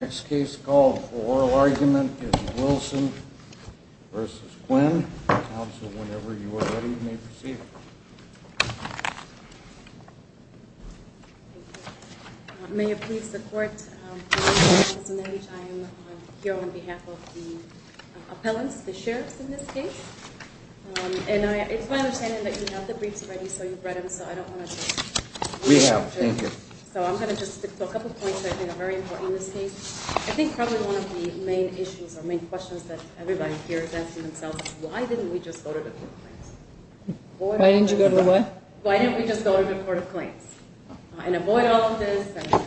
The next case called Oral Argument is Wilson v. Quinn. Counsel, whenever you are ready, may proceed. May it please the Court, I am here on behalf of the appellants, the sheriffs in this case. And it's my understanding that you have the briefs ready, so you've read them, so I don't want to... We have, thank you. So I'm going to just stick to a couple points that I think are very important in this case. I think probably one of the main issues or main questions that everybody here is asking themselves is, why didn't we just go to the Court of Claims? Why didn't you go to what? Why didn't we just go to the Court of Claims? And avoid all of this and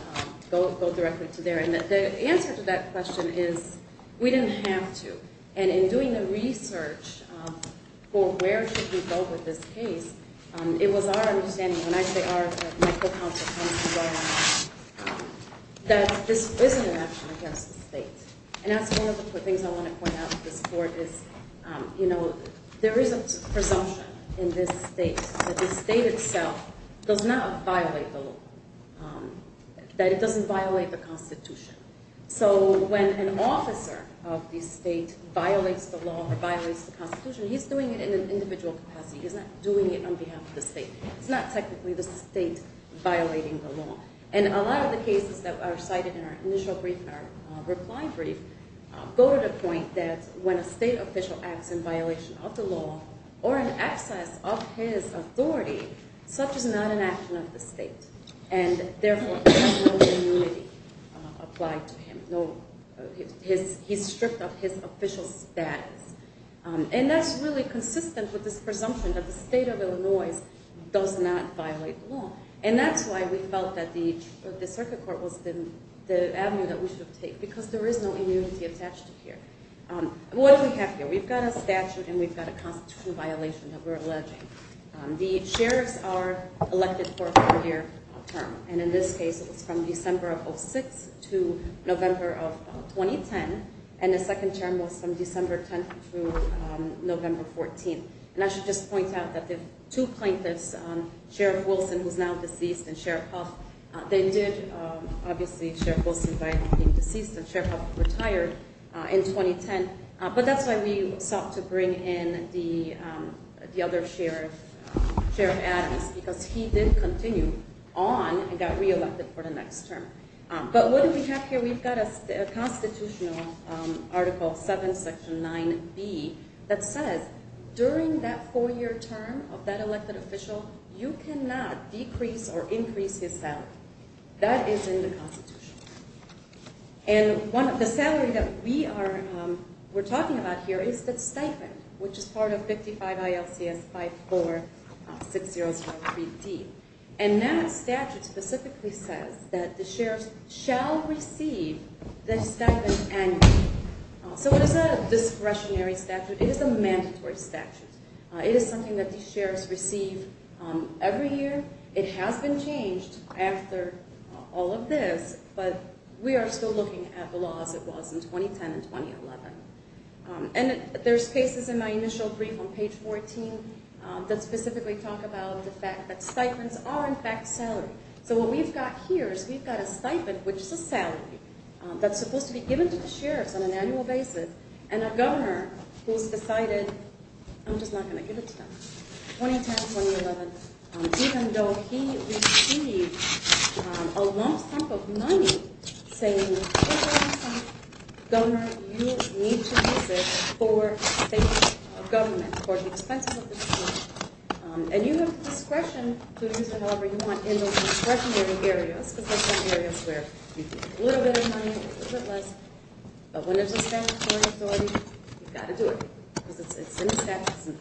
go directly to there. And the answer to that question is, we didn't have to. And in doing the research for where should we go with this case, it was our understanding, when I say our, that my co-counsel comes from Oral Argument, that this isn't an action against the state. And that's one of the things I want to point out to this Court is, you know, there is a presumption in this state that the state itself does not violate the law, that it doesn't violate the Constitution. So when an officer of the state violates the law or violates the Constitution, he's doing it in an individual capacity. He's not doing it on behalf of the state. It's not technically the state violating the law. And a lot of the cases that are cited in our initial brief, our reply brief, go to the point that when a state official acts in violation of the law or in excess of his authority, such is not an action of the state. And, therefore, there is no community applied to him. No, he's stripped of his official status. And that's really consistent with this presumption that the state of Illinois does not violate the law. And that's why we felt that the Circuit Court was the avenue that we should have taken, because there is no immunity attached to here. What do we have here? We've got a statute and we've got a constitutional violation that we're alleging. The sheriffs are elected for a four-year term. And in this case, it was from December of 06 to November of 2010. And the second term was from December 10 through November 14. And I should just point out that the two plaintiffs, Sheriff Wilson, who is now deceased, and Sheriff Huff, they did, obviously, Sheriff Wilson died of being deceased and Sheriff Huff retired in 2010. But that's why we sought to bring in the other sheriff, Sheriff Adams, because he did continue on and got re-elected for the next term. But what do we have here? We've got a constitutional Article 7, Section 9B that says during that four-year term of that elected official, you cannot decrease or increase his salary. That is in the Constitution. And the salary that we are talking about here is the stipend, which is part of 55 ILCS 546003D. And that statute specifically says that the sheriffs shall receive the stipend annually. So it is a discretionary statute. It is a mandatory statute. It is something that the sheriffs receive every year. It has been changed after all of this, but we are still looking at the laws as it was in 2010 and 2011. And there's cases in my initial brief on page 14 that specifically talk about the fact that stipends are, in fact, salary. So what we've got here is we've got a stipend, which is a salary, that's supposed to be given to the sheriffs on an annual basis, and a governor who's decided, I'm just not going to give it to them. 2010, 2011, even though he received a lump sum of money saying, Governor, you need to use it for the sake of government, for the expenses of the government. And you have discretion to use it however you want in those discretionary areas, because those are areas where you get a little bit of money, a little bit less. But when it's a statutory authority, you've got to do it, because it's in the statute.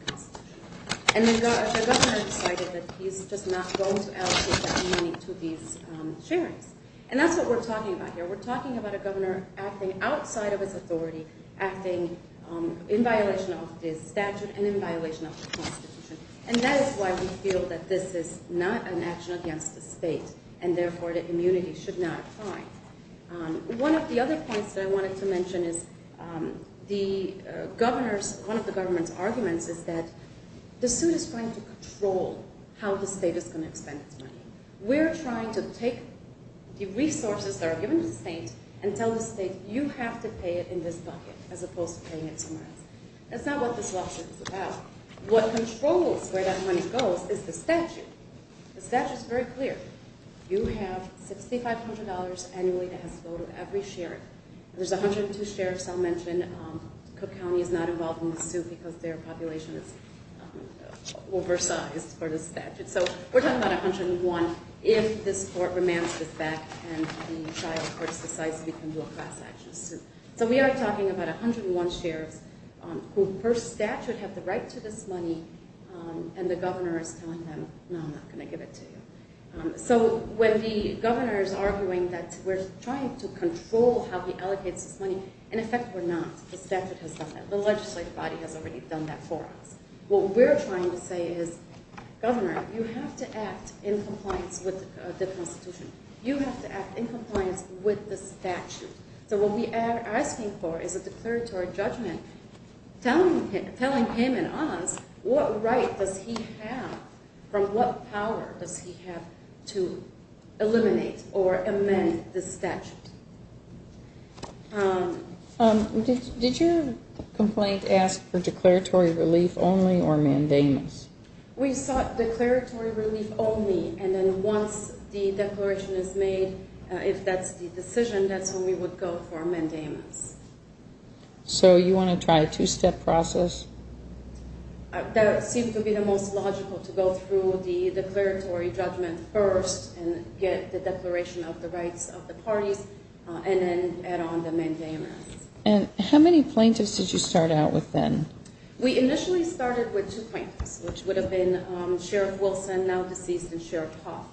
And the governor decided that he's just not going to allocate that money to these sheriffs. And that's what we're talking about here. We're talking about a governor acting outside of his authority, acting in violation of his statute and in violation of the Constitution. And that is why we feel that this is not an action against the state, and therefore the immunity should not apply. One of the other points that I wanted to mention is one of the government's arguments is that the suit is trying to control how the state is going to expend its money. We're trying to take the resources that are given to the state and tell the state, you have to pay it in this bucket, as opposed to paying it somewhere else. That's not what this lawsuit is about. What controls where that money goes is the statute. The statute is very clear. You have $6,500 annually that has to go to every sheriff. There's 102 sheriffs I'll mention. Cook County is not involved in the suit because their population is oversized for the statute. So we're talking about 101 if this court remands this back and the child court decides we can do a class action suit. So we are talking about 101 sheriffs who per statute have the right to this money, and the governor is telling them, no, I'm not going to give it to you. So when the governor is arguing that we're trying to control how he allocates this money, in effect we're not. The statute has done that. The legislative body has already done that for us. What we're trying to say is, governor, you have to act in compliance with the Constitution. You have to act in compliance with the statute. So what we are asking for is a declaratory judgment telling him and us what right does he have, from what power does he have to eliminate or amend the statute. Did your complaint ask for declaratory relief only or mandamus? We sought declaratory relief only, and then once the declaration is made, if that's the decision, that's when we would go for a mandamus. So you want to try a two-step process? That seems to be the most logical, to go through the declaratory judgment first and get the declaration of the rights of the parties, and then add on the mandamus. And how many plaintiffs did you start out with then? We initially started with two plaintiffs, which would have been Sheriff Wilson, now deceased, and Sheriff Huff.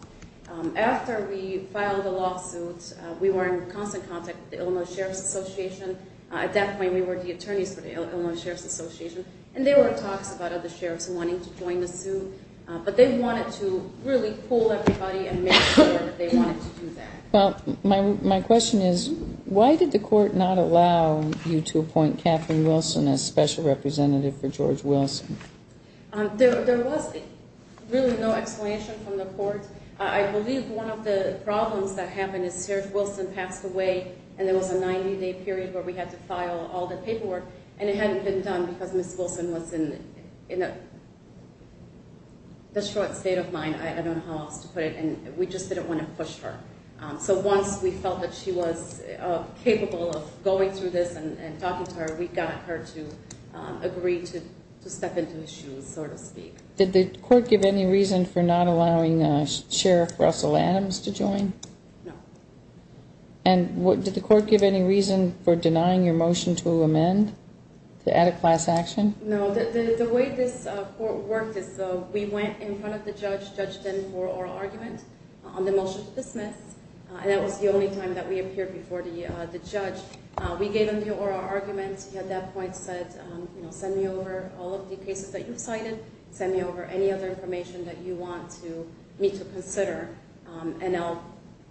After we filed the lawsuit, we were in constant contact with the Illinois Sheriffs Association. At that point, we were the attorneys for the Illinois Sheriffs Association, and there were talks about other sheriffs wanting to join the suit. But they wanted to really pull everybody and make sure that they wanted to do that. Well, my question is, why did the court not allow you to appoint Kathryn Wilson as special representative for George Wilson? There was really no explanation from the court. I believe one of the problems that happened is Sheriff Wilson passed away, and there was a 90-day period where we had to file all the paperwork, and it hadn't been done because Ms. Wilson was in the short state of mind, I don't know how else to put it, and we just didn't want to push her. So once we felt that she was capable of going through this and talking to her, we got her to agree to step into the shoes, so to speak. Did the court give any reason for not allowing Sheriff Russell Adams to join? No. And did the court give any reason for denying your motion to amend, to add a class action? No. The way this court worked is we went in front of the judge, judged him for oral argument on the motion to dismiss, and that was the only time that we appeared before the judge. We gave him the oral argument. He at that point said, you know, send me over all of the cases that you've cited. Send me over any other information that you want me to consider, and I'll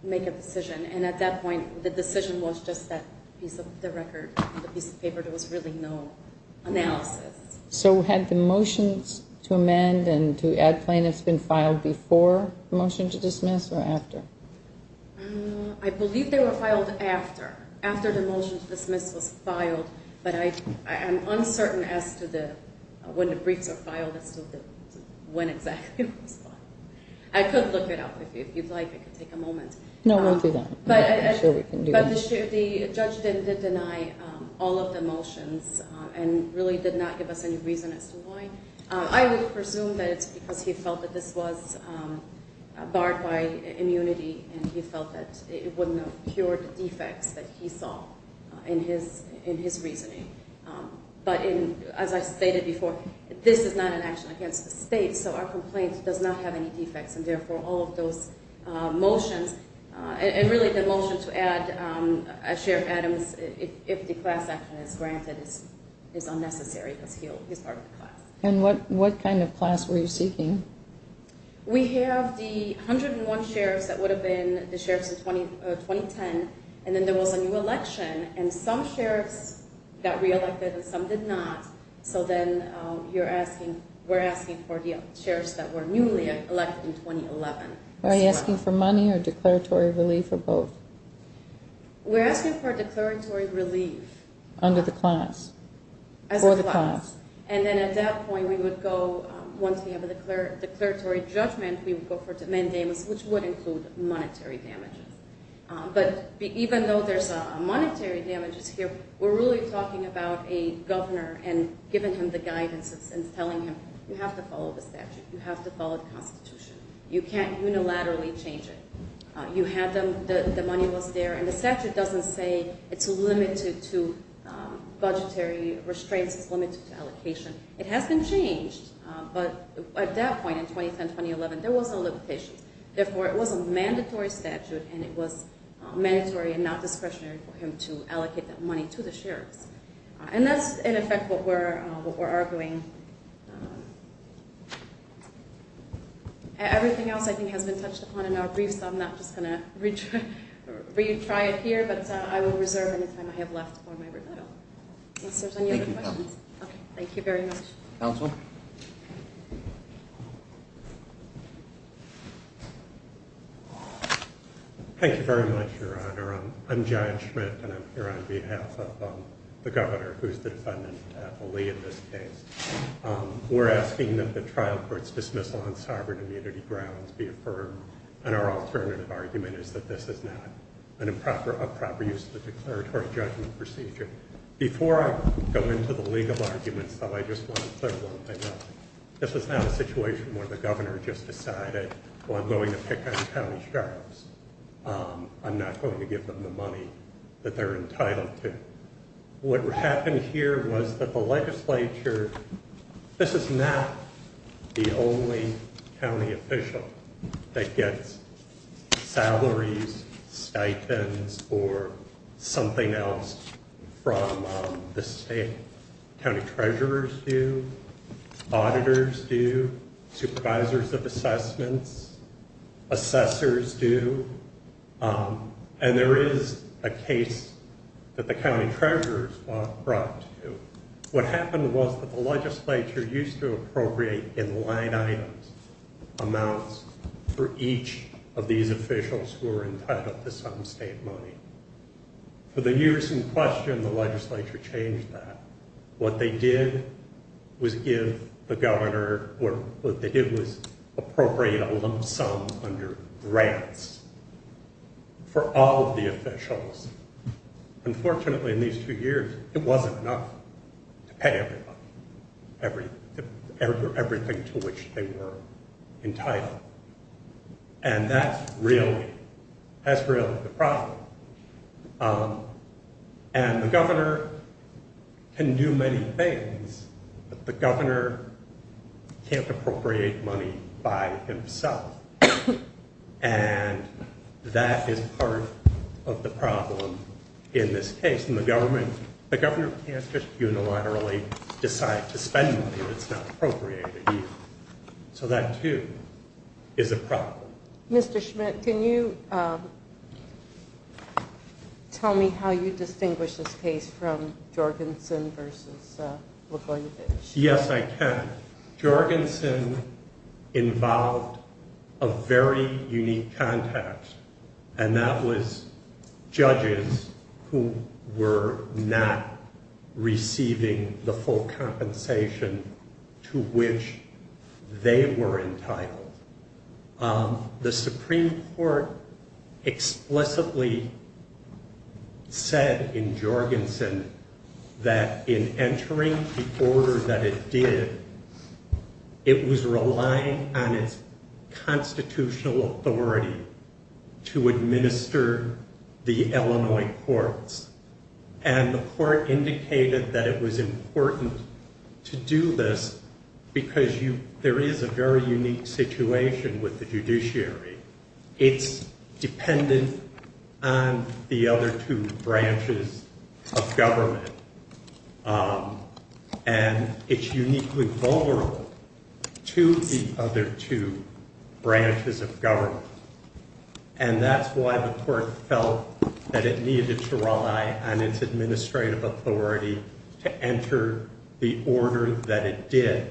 make a decision. And at that point, the decision was just that piece of the record, the piece of paper. There was really no analysis. So had the motions to amend and to add plaintiffs been filed before the motion to dismiss or after? I believe they were filed after, after the motion to dismiss was filed, but I'm uncertain as to when the briefs were filed as to when exactly it was filed. I could look it up if you'd like. It could take a moment. No, we'll do that. I'm sure we can do that. But the judge did deny all of the motions and really did not give us any reason as to why. I would presume that it's because he felt that this was barred by immunity, and he felt that it wouldn't have cured the defects that he saw in his reasoning. But as I stated before, this is not an action against the state, so our complaint does not have any defects, and therefore all of those motions, and really the motion to add Sheriff Adams, if the class action is granted, is unnecessary because he's part of the class. And what kind of class were you seeking? We have the 101 sheriffs that would have been the sheriffs in 2010, and then there was a new election, and some sheriffs got reelected and some did not. So then we're asking for the sheriffs that were newly elected in 2011. Are you asking for money or declaratory relief or both? We're asking for declaratory relief. Under the class? As a class. For the class. And then at that point we would go, once we have a declaratory judgment, we would go for mandamus, which would include monetary damages. But even though there's monetary damages here, we're really talking about a governor and giving him the guidance and telling him, you have to follow the statute, you have to follow the Constitution. You can't unilaterally change it. You had them, the money was there, and the statute doesn't say it's limited to budgetary restraints, it's limited to allocation. It has been changed, but at that point in 2010-2011 there was no limitation. Therefore, it was a mandatory statute, and it was mandatory and not discretionary for him to allocate that money to the sheriffs. And that's, in effect, what we're arguing. Everything else I think has been touched upon in our briefs, so I'm not just going to retry it here, but I will reserve any time I have left for my rebuttal. If there's any other questions. Okay. Thank you very much. Counsel? Thank you very much, Your Honor. I'm John Schmidt, and I'm here on behalf of the governor, who is the defendant, Ali, in this case. We're asking that the trial court's dismissal on sovereign immunity grounds be affirmed, and our alternative argument is that this is not a proper use of the declaratory judgment procedure. Before I go into the legal arguments, though, I just want to clear one thing up. This is not a situation where the governor just decided, well, I'm going to pick on county sheriffs. I'm not going to give them the money that they're entitled to. What happened here was that the legislature, this is not the only county official that gets salaries, stipends, or something else from the state. County treasurers do. Auditors do. Supervisors of assessments. Assessors do. And there is a case that the county treasurers were brought to. What happened was that the legislature used to appropriate in line items amounts for each of these officials who were entitled to some state money. For the years in question, the legislature changed that. What they did was give the governor, or what they did was appropriate a lump sum under grants for all of the officials. Unfortunately, in these two years, it wasn't enough to pay everybody everything to which they were entitled. And that's really the problem. And the governor can do many things, but the governor can't appropriate money by himself. And that is part of the problem in this case. The governor can't just unilaterally decide to spend money if it's not appropriated. So that, too, is a problem. Mr. Schmidt, can you tell me how you distinguish this case from Jorgensen versus Laguna Beach? Yes, I can. Jorgensen involved a very unique context, and that was judges who were not receiving the full compensation to which they were entitled. The Supreme Court explicitly said in Jorgensen that in entering the order that it did, it was relying on its constitutional authority to administer the Illinois courts. And the court indicated that it was important to do this because there is a very unique situation with the judiciary. It's dependent on the other two branches of government. And it's uniquely vulnerable to the other two branches of government. And that's why the court felt that it needed to rely on its administrative authority to enter the order that it did.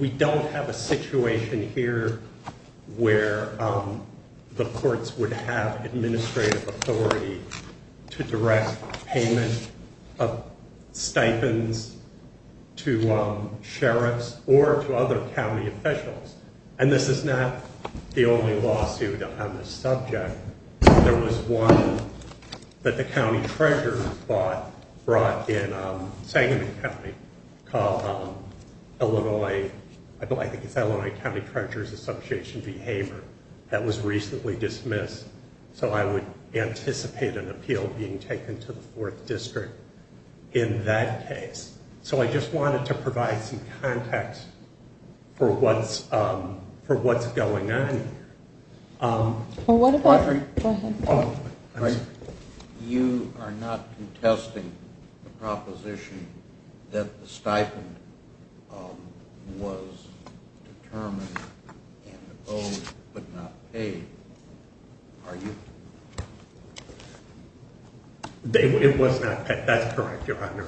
We don't have a situation here where the courts would have administrative authority to direct payment of stipends to sheriffs or to other county officials. And this is not the only lawsuit on this subject. There was one that the county treasurer brought in Sangamon County, Illinois. I think it's Illinois County Treasurer's Association Behavior that was recently dismissed. So I would anticipate an appeal being taken to the 4th District in that case. So I just wanted to provide some context for what's going on here. Audrey? You are not contesting the proposition that the stipend was determined and owed but not paid, are you? It was not paid, that's correct, Your Honor.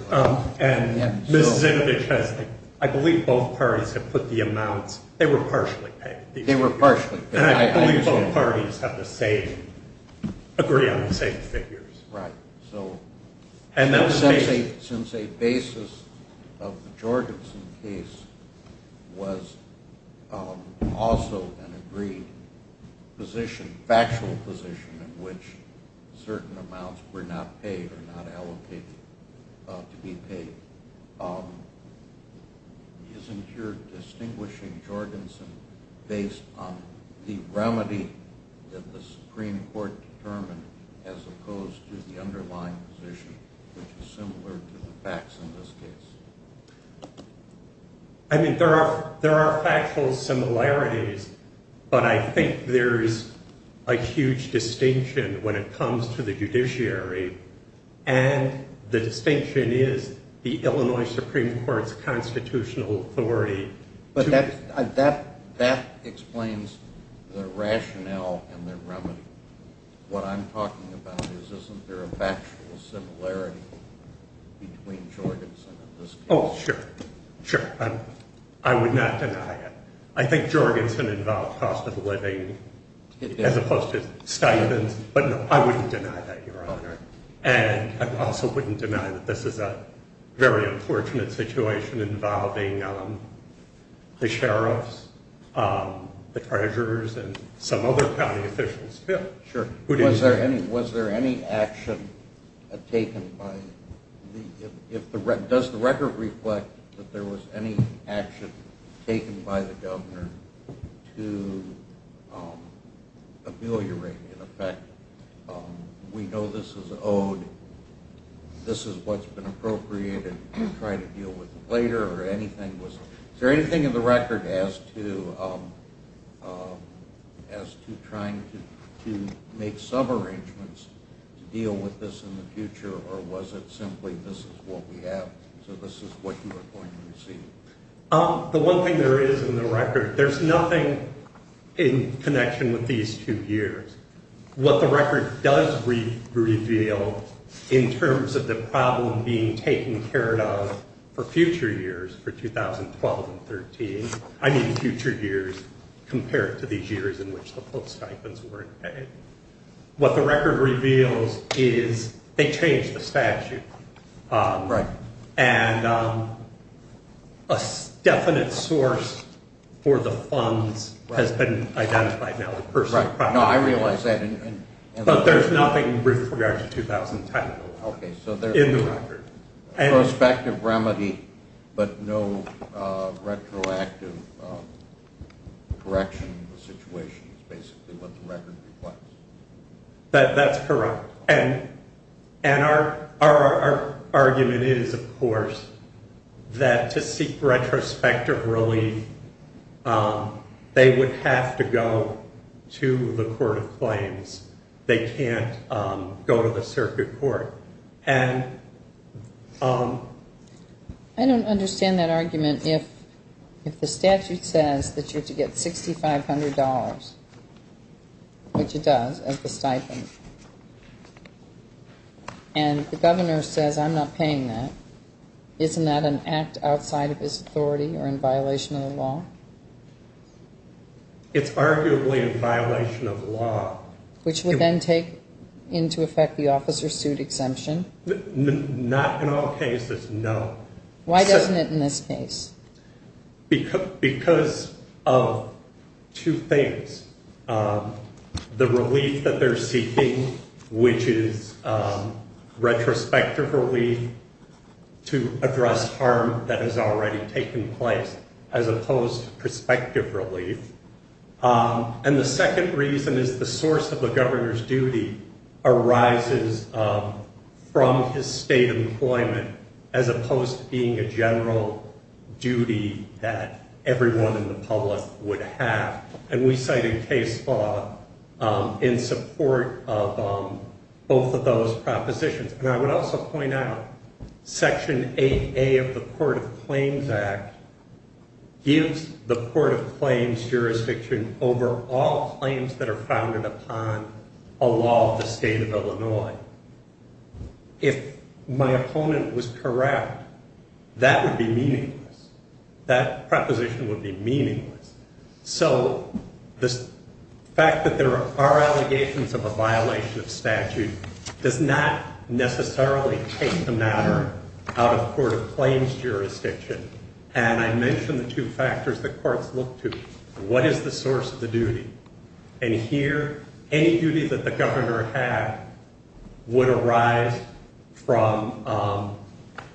And Ms. Zinovich has, I believe both parties have put the amounts, they were partially paid. They were partially paid. And I believe both parties have the same, agree on the same figures. Right. So since a basis of the Jorgensen case was also an agreed position, factual position, in which certain amounts were not paid or not allocated to be paid, isn't your distinguishing Jorgensen based on the remedy that the Supreme Court determined as opposed to the underlying position, which is similar to the facts in this case? I mean, there are factual similarities, but I think there's a huge distinction when it comes to the judiciary. And the distinction is the Illinois Supreme Court's constitutional authority. But that explains the rationale and the remedy. What I'm talking about is isn't there a factual similarity between Jorgensen and this case? Oh, sure. Sure. I would not deny it. I think Jorgensen involved cost of living as opposed to stipends. But no, I wouldn't deny that, Your Honor. And I also wouldn't deny that this is a very unfortunate situation involving the sheriffs, the treasurers, and some other county officials. Bill? Sure. Was there any action taken by the, does the record reflect that there was any action taken by the governor to ameliorate, in effect, we know this is owed, this is what's been appropriated to try to deal with later, or anything was, is there anything in the record as to trying to make some arrangements to deal with this in the future, or was it simply this is what we have, so this is what you are going to receive? The one thing there is in the record, there's nothing in connection with these two years. What the record does reveal in terms of the problem being taken care of for future years, for 2012 and 2013, I mean future years compared to these years in which the full stipends weren't paid, what the record reveals is they changed the statute. Right. And a definite source for the funds has been identified now. Right. No, I realize that. But there's nothing with regard to 2010. Okay. In the record. Prospective remedy, but no retroactive correction of the situation is basically what the record reflects. That's correct. And our argument is, of course, that to seek retrospective relief, they would have to go to the court of claims. They can't go to the circuit court. I don't understand that argument if the statute says that you're to get $6,500, which it does, as the stipend, and the governor says I'm not paying that, isn't that an act outside of his authority or in violation of the law? It's arguably in violation of the law. Which would then take into effect the officer's suit exemption? Not in all cases, no. Why doesn't it in this case? Because of two things. The relief that they're seeking, which is retrospective relief to address harm that has already taken place, as opposed to prospective relief. And the second reason is the source of the governor's duty arises from his state employment, as opposed to being a general duty that everyone in the public would have. And we cited case law in support of both of those propositions. And I would also point out Section 8A of the Court of Claims Act gives the court of claims jurisdiction over all claims that are founded upon a law of the state of Illinois. If my opponent was corrupt, that would be meaningless. That proposition would be meaningless. So the fact that there are allegations of a violation of statute does not necessarily take the matter out of court of claims jurisdiction. And I mentioned the two factors the courts look to. What is the source of the duty? And here, any duty that the governor had would arise from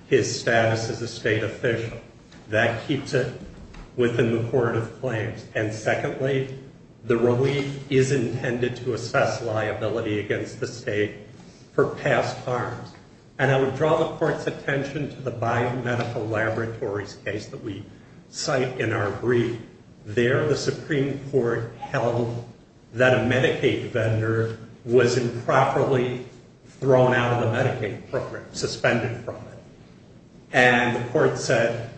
his status as a state official. That keeps it within the court of claims. And secondly, the relief is intended to assess liability against the state for past harms. And I would draw the court's attention to the biomedical laboratories case that we cite in our brief. There, the Supreme Court held that a Medicaid vendor was improperly thrown out of the Medicaid program, suspended from it. And the court said,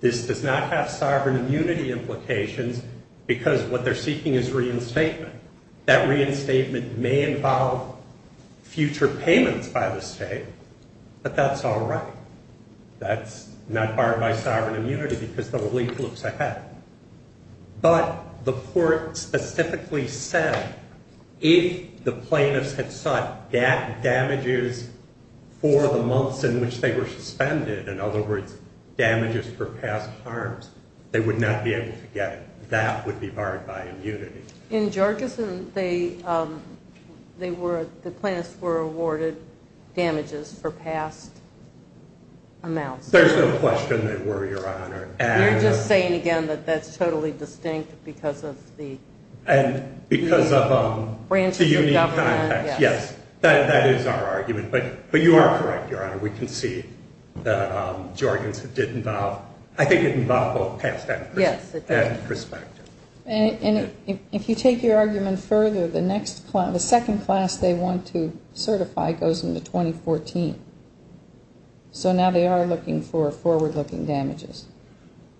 this does not have sovereign immunity implications because what they're seeking is reinstatement. That reinstatement may involve future payments by the state, but that's all right. That's not barred by sovereign immunity because the relief looks ahead. But the court specifically said, if the plaintiffs had sought damages for the months in which they were suspended, in other words, damages for past harms, they would not be able to get it. That would be barred by immunity. In Jorgensen, the plaintiffs were awarded damages for past amounts. You're just saying again that that's totally distinct because of the branches of government. Yes, that is our argument. But you are correct, Your Honor. We can see that Jorgensen did involve, I think it involved both past and prospective. And if you take your argument further, the second class they want to certify goes into 2014. So now they are looking for forward-looking damages.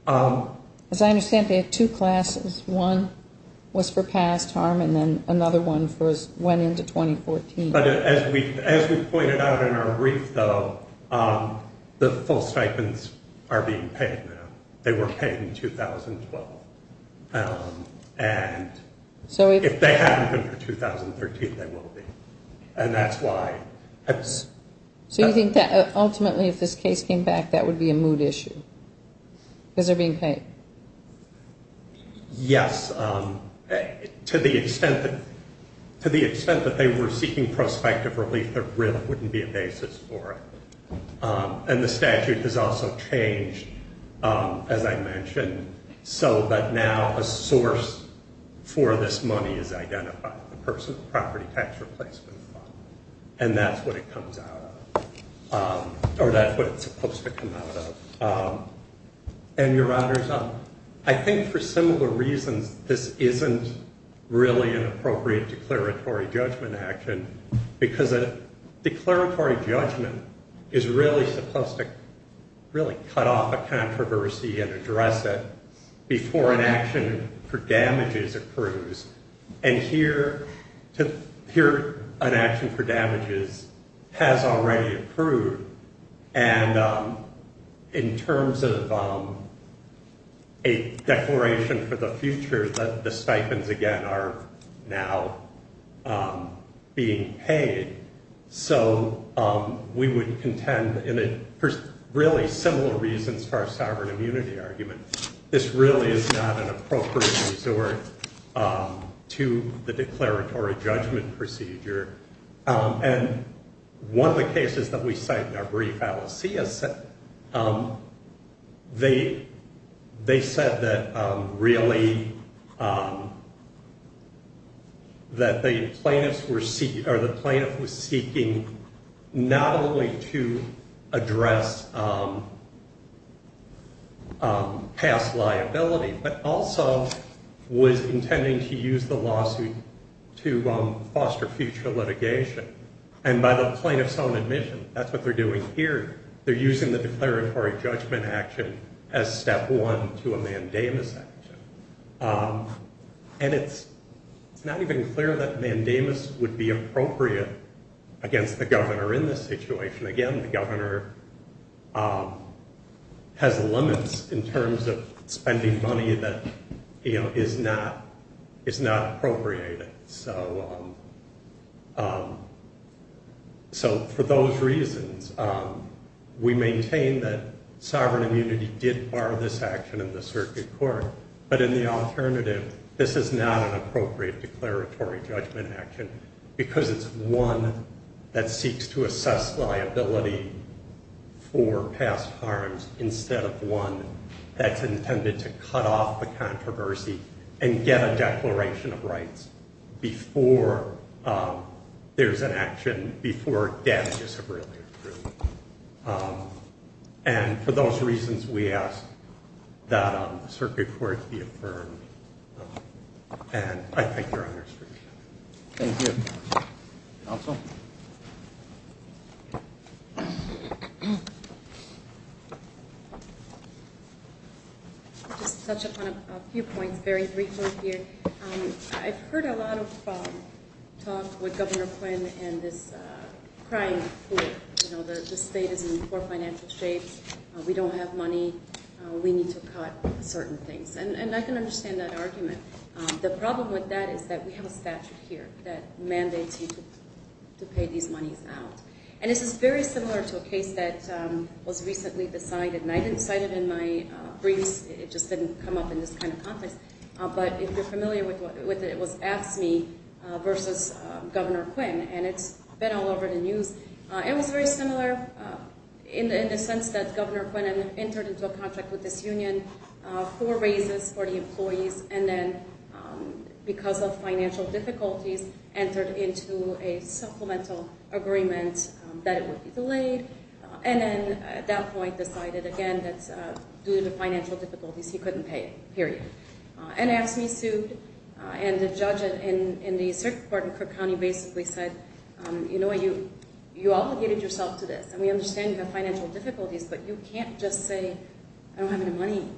As I understand, they have two classes. One was for past harm, and then another one went into 2014. But as we pointed out in our brief, though, the full stipends are being paid now. They were paid in 2012. And if they haven't been for 2013, they will be. And that's why. So you think that ultimately if this case came back, that would be a moot issue because they're being paid? Yes. To the extent that they were seeking prospective relief, there really wouldn't be a basis for it. And the statute has also changed, as I mentioned, so that now a source for this money is identified, the person with the property tax replacement fund. And that's what it comes out of. Or that's what it's supposed to come out of. And, Your Honor, I think for similar reasons, this isn't really an appropriate declaratory judgment action because a declaratory judgment is really supposed to really cut off a controversy and address it before an action for damages accrues. And here an action for damages has already accrued. And in terms of a declaration for the future, the stipends, again, are now being paid. So we would contend, for really similar reasons for our sovereign immunity argument, this really is not an appropriate resort to the declaratory judgment procedure. And one of the cases that we cite in our brief alicia set, they said that really that the plaintiff was seeking not only to address past liability but also was intending to use the lawsuit to foster future litigation. And by the plaintiff's own admission, that's what they're doing here. They're using the declaratory judgment action as step one to a mandamus action. And it's not even clear that mandamus would be appropriate against the governor in this situation. Again, the governor has limits in terms of spending money that is not appropriated. So for those reasons, we maintain that sovereign immunity did bar this action in the circuit court. But in the alternative, this is not an appropriate declaratory judgment action because it's one that seeks to assess liability for past harms instead of one that's intended to cut off the controversy and get a declaration of rights before there's an action, before damages have really occurred. And for those reasons, we ask that the circuit court be affirmed. And I think you're on your screen. Thank you. Counsel? I'll just touch upon a few points very briefly here. I've heard a lot of talk with Governor Quinn and this crying for, you know, the state is in poor financial shape. We don't have money. We need to cut certain things. And I can understand that argument. The problem with that is that we have a statute here that mandates you to pay these monies out. And this is very similar to a case that was recently decided. And I didn't cite it in my briefs. It just didn't come up in this kind of context. But if you're familiar with it, it was AFSCME versus Governor Quinn. And it's been all over the news. It was very similar in the sense that Governor Quinn entered into a contract with this union for raises for the employees and then, because of financial difficulties, entered into a supplemental agreement that it would be delayed. And then at that point decided, again, that due to financial difficulties he couldn't pay, period. And AFSCME sued. And the judge in the circuit court in Crook County basically said, you know what, you obligated yourself to this. And we understand you have financial difficulties, but you can't just say I don't have any money.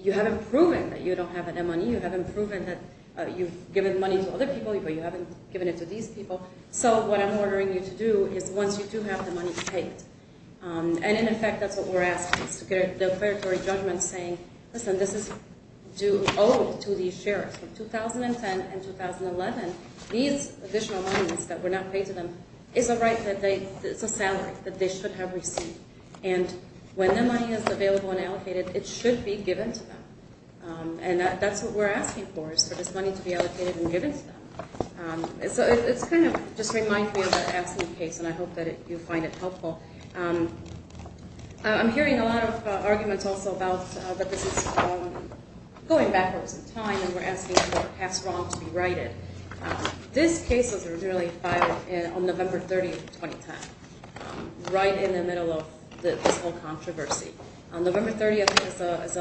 You haven't proven that you don't have any money. You haven't proven that you've given money to other people, but you haven't given it to these people. So what I'm ordering you to do is once you do have the money, pay it. And, in effect, that's what we're asking, is to get a declaratory judgment saying, listen, this is due owed to these sheriffs. From 2010 and 2011, these additional monies that were not paid to them is a salary that they should have received. And when the money is available and allocated, it should be given to them. And that's what we're asking for, is for this money to be allocated and given to them. So it kind of just reminds me of that AFSCME case, and I hope that you find it helpful. I'm hearing a lot of arguments also about the business going backwards in time, and we're asking for past wrongs to be righted. This case was really filed on November 30th, 2010, right in the middle of this whole controversy. November 30th is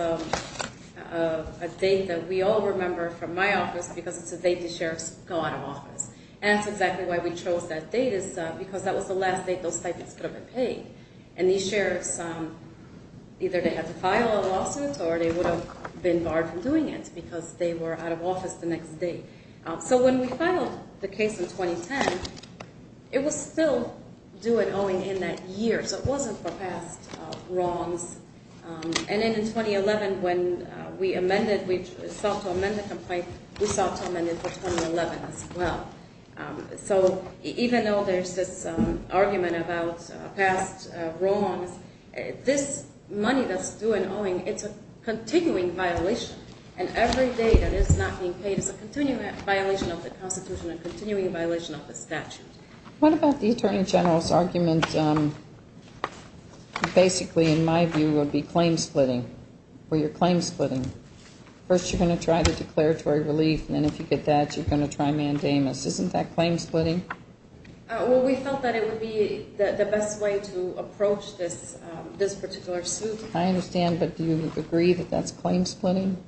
a date that we all remember from my office because it's the date the sheriffs go out of office. And that's exactly why we chose that date is because that was the last date those stipends could have been paid. And these sheriffs, either they had to file a lawsuit or they would have been barred from doing it because they were out of office the next day. So when we filed the case in 2010, it was still due and owing in that year, so it wasn't for past wrongs. And then in 2011, when we amended, we sought to amend the complaint, we sought to amend it for 2011 as well. So even though there's this argument about past wrongs, this money that's due and owing, it's a continuing violation. And every day that it's not being paid is a continuing violation of the Constitution and a continuing violation of the statute. What about the Attorney General's argument, basically, in my view, would be claim splitting? Were you claim splitting? First you're going to try the declaratory relief, and then if you get that, you're going to try mandamus. Isn't that claim splitting? Well, we felt that it would be the best way to approach this particular suit. I understand, but do you agree that that's claim splitting?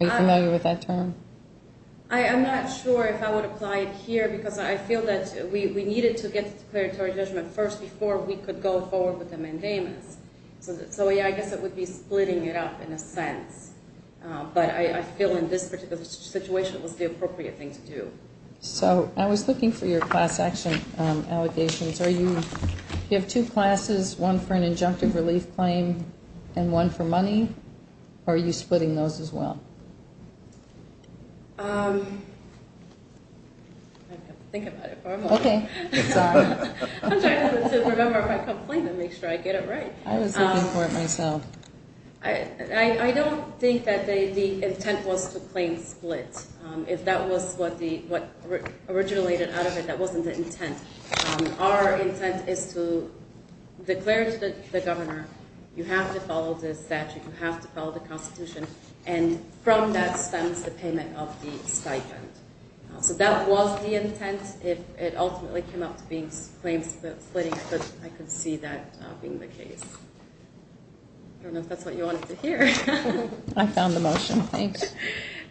Are you familiar with that term? I'm not sure if I would apply it here because I feel that we needed to get the declaratory judgment first before we could go forward with the mandamus. So, yeah, I guess it would be splitting it up in a sense. But I feel in this particular situation it was the appropriate thing to do. So I was looking for your class action allegations. You have two classes, one for an injunctive relief claim and one for money. Are you splitting those as well? I have to think about it for a moment. Okay. I'm trying to remember if I complained and make sure I get it right. I was looking for it myself. I don't think that the intent was to claim split. If that was what originated out of it, that wasn't the intent. Our intent is to declare to the governor, you have to follow the statute, you have to follow the Constitution, and from that stems the payment of the stipend. So that was the intent. It ultimately came up to being claim splitting, but I could see that being the case. I don't know if that's what you wanted to hear. I found the motion. Thanks.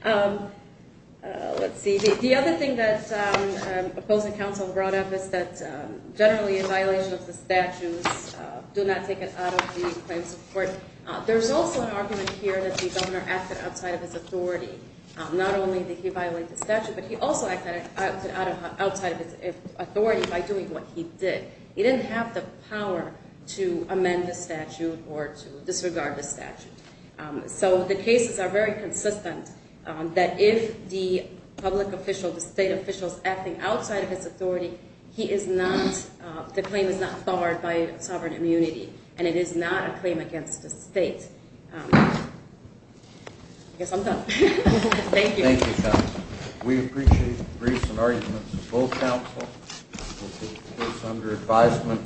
Let's see. The other thing that opposing counsel brought up is that generally in violation of the statutes, do not take it out of the claims of court. There's also an argument here that the governor acted outside of his authority. Not only did he violate the statute, but he also acted outside of his authority by doing what he did. He didn't have the power to amend the statute or to disregard the statute. So the cases are very consistent that if the public official, the state official, is acting outside of his authority, the claim is not barred by sovereign immunity, and it is not a claim against the state. I guess I'm done. Thank you. Thank you, counsel. We appreciate the briefs and arguments of both counsel. The case under advisement.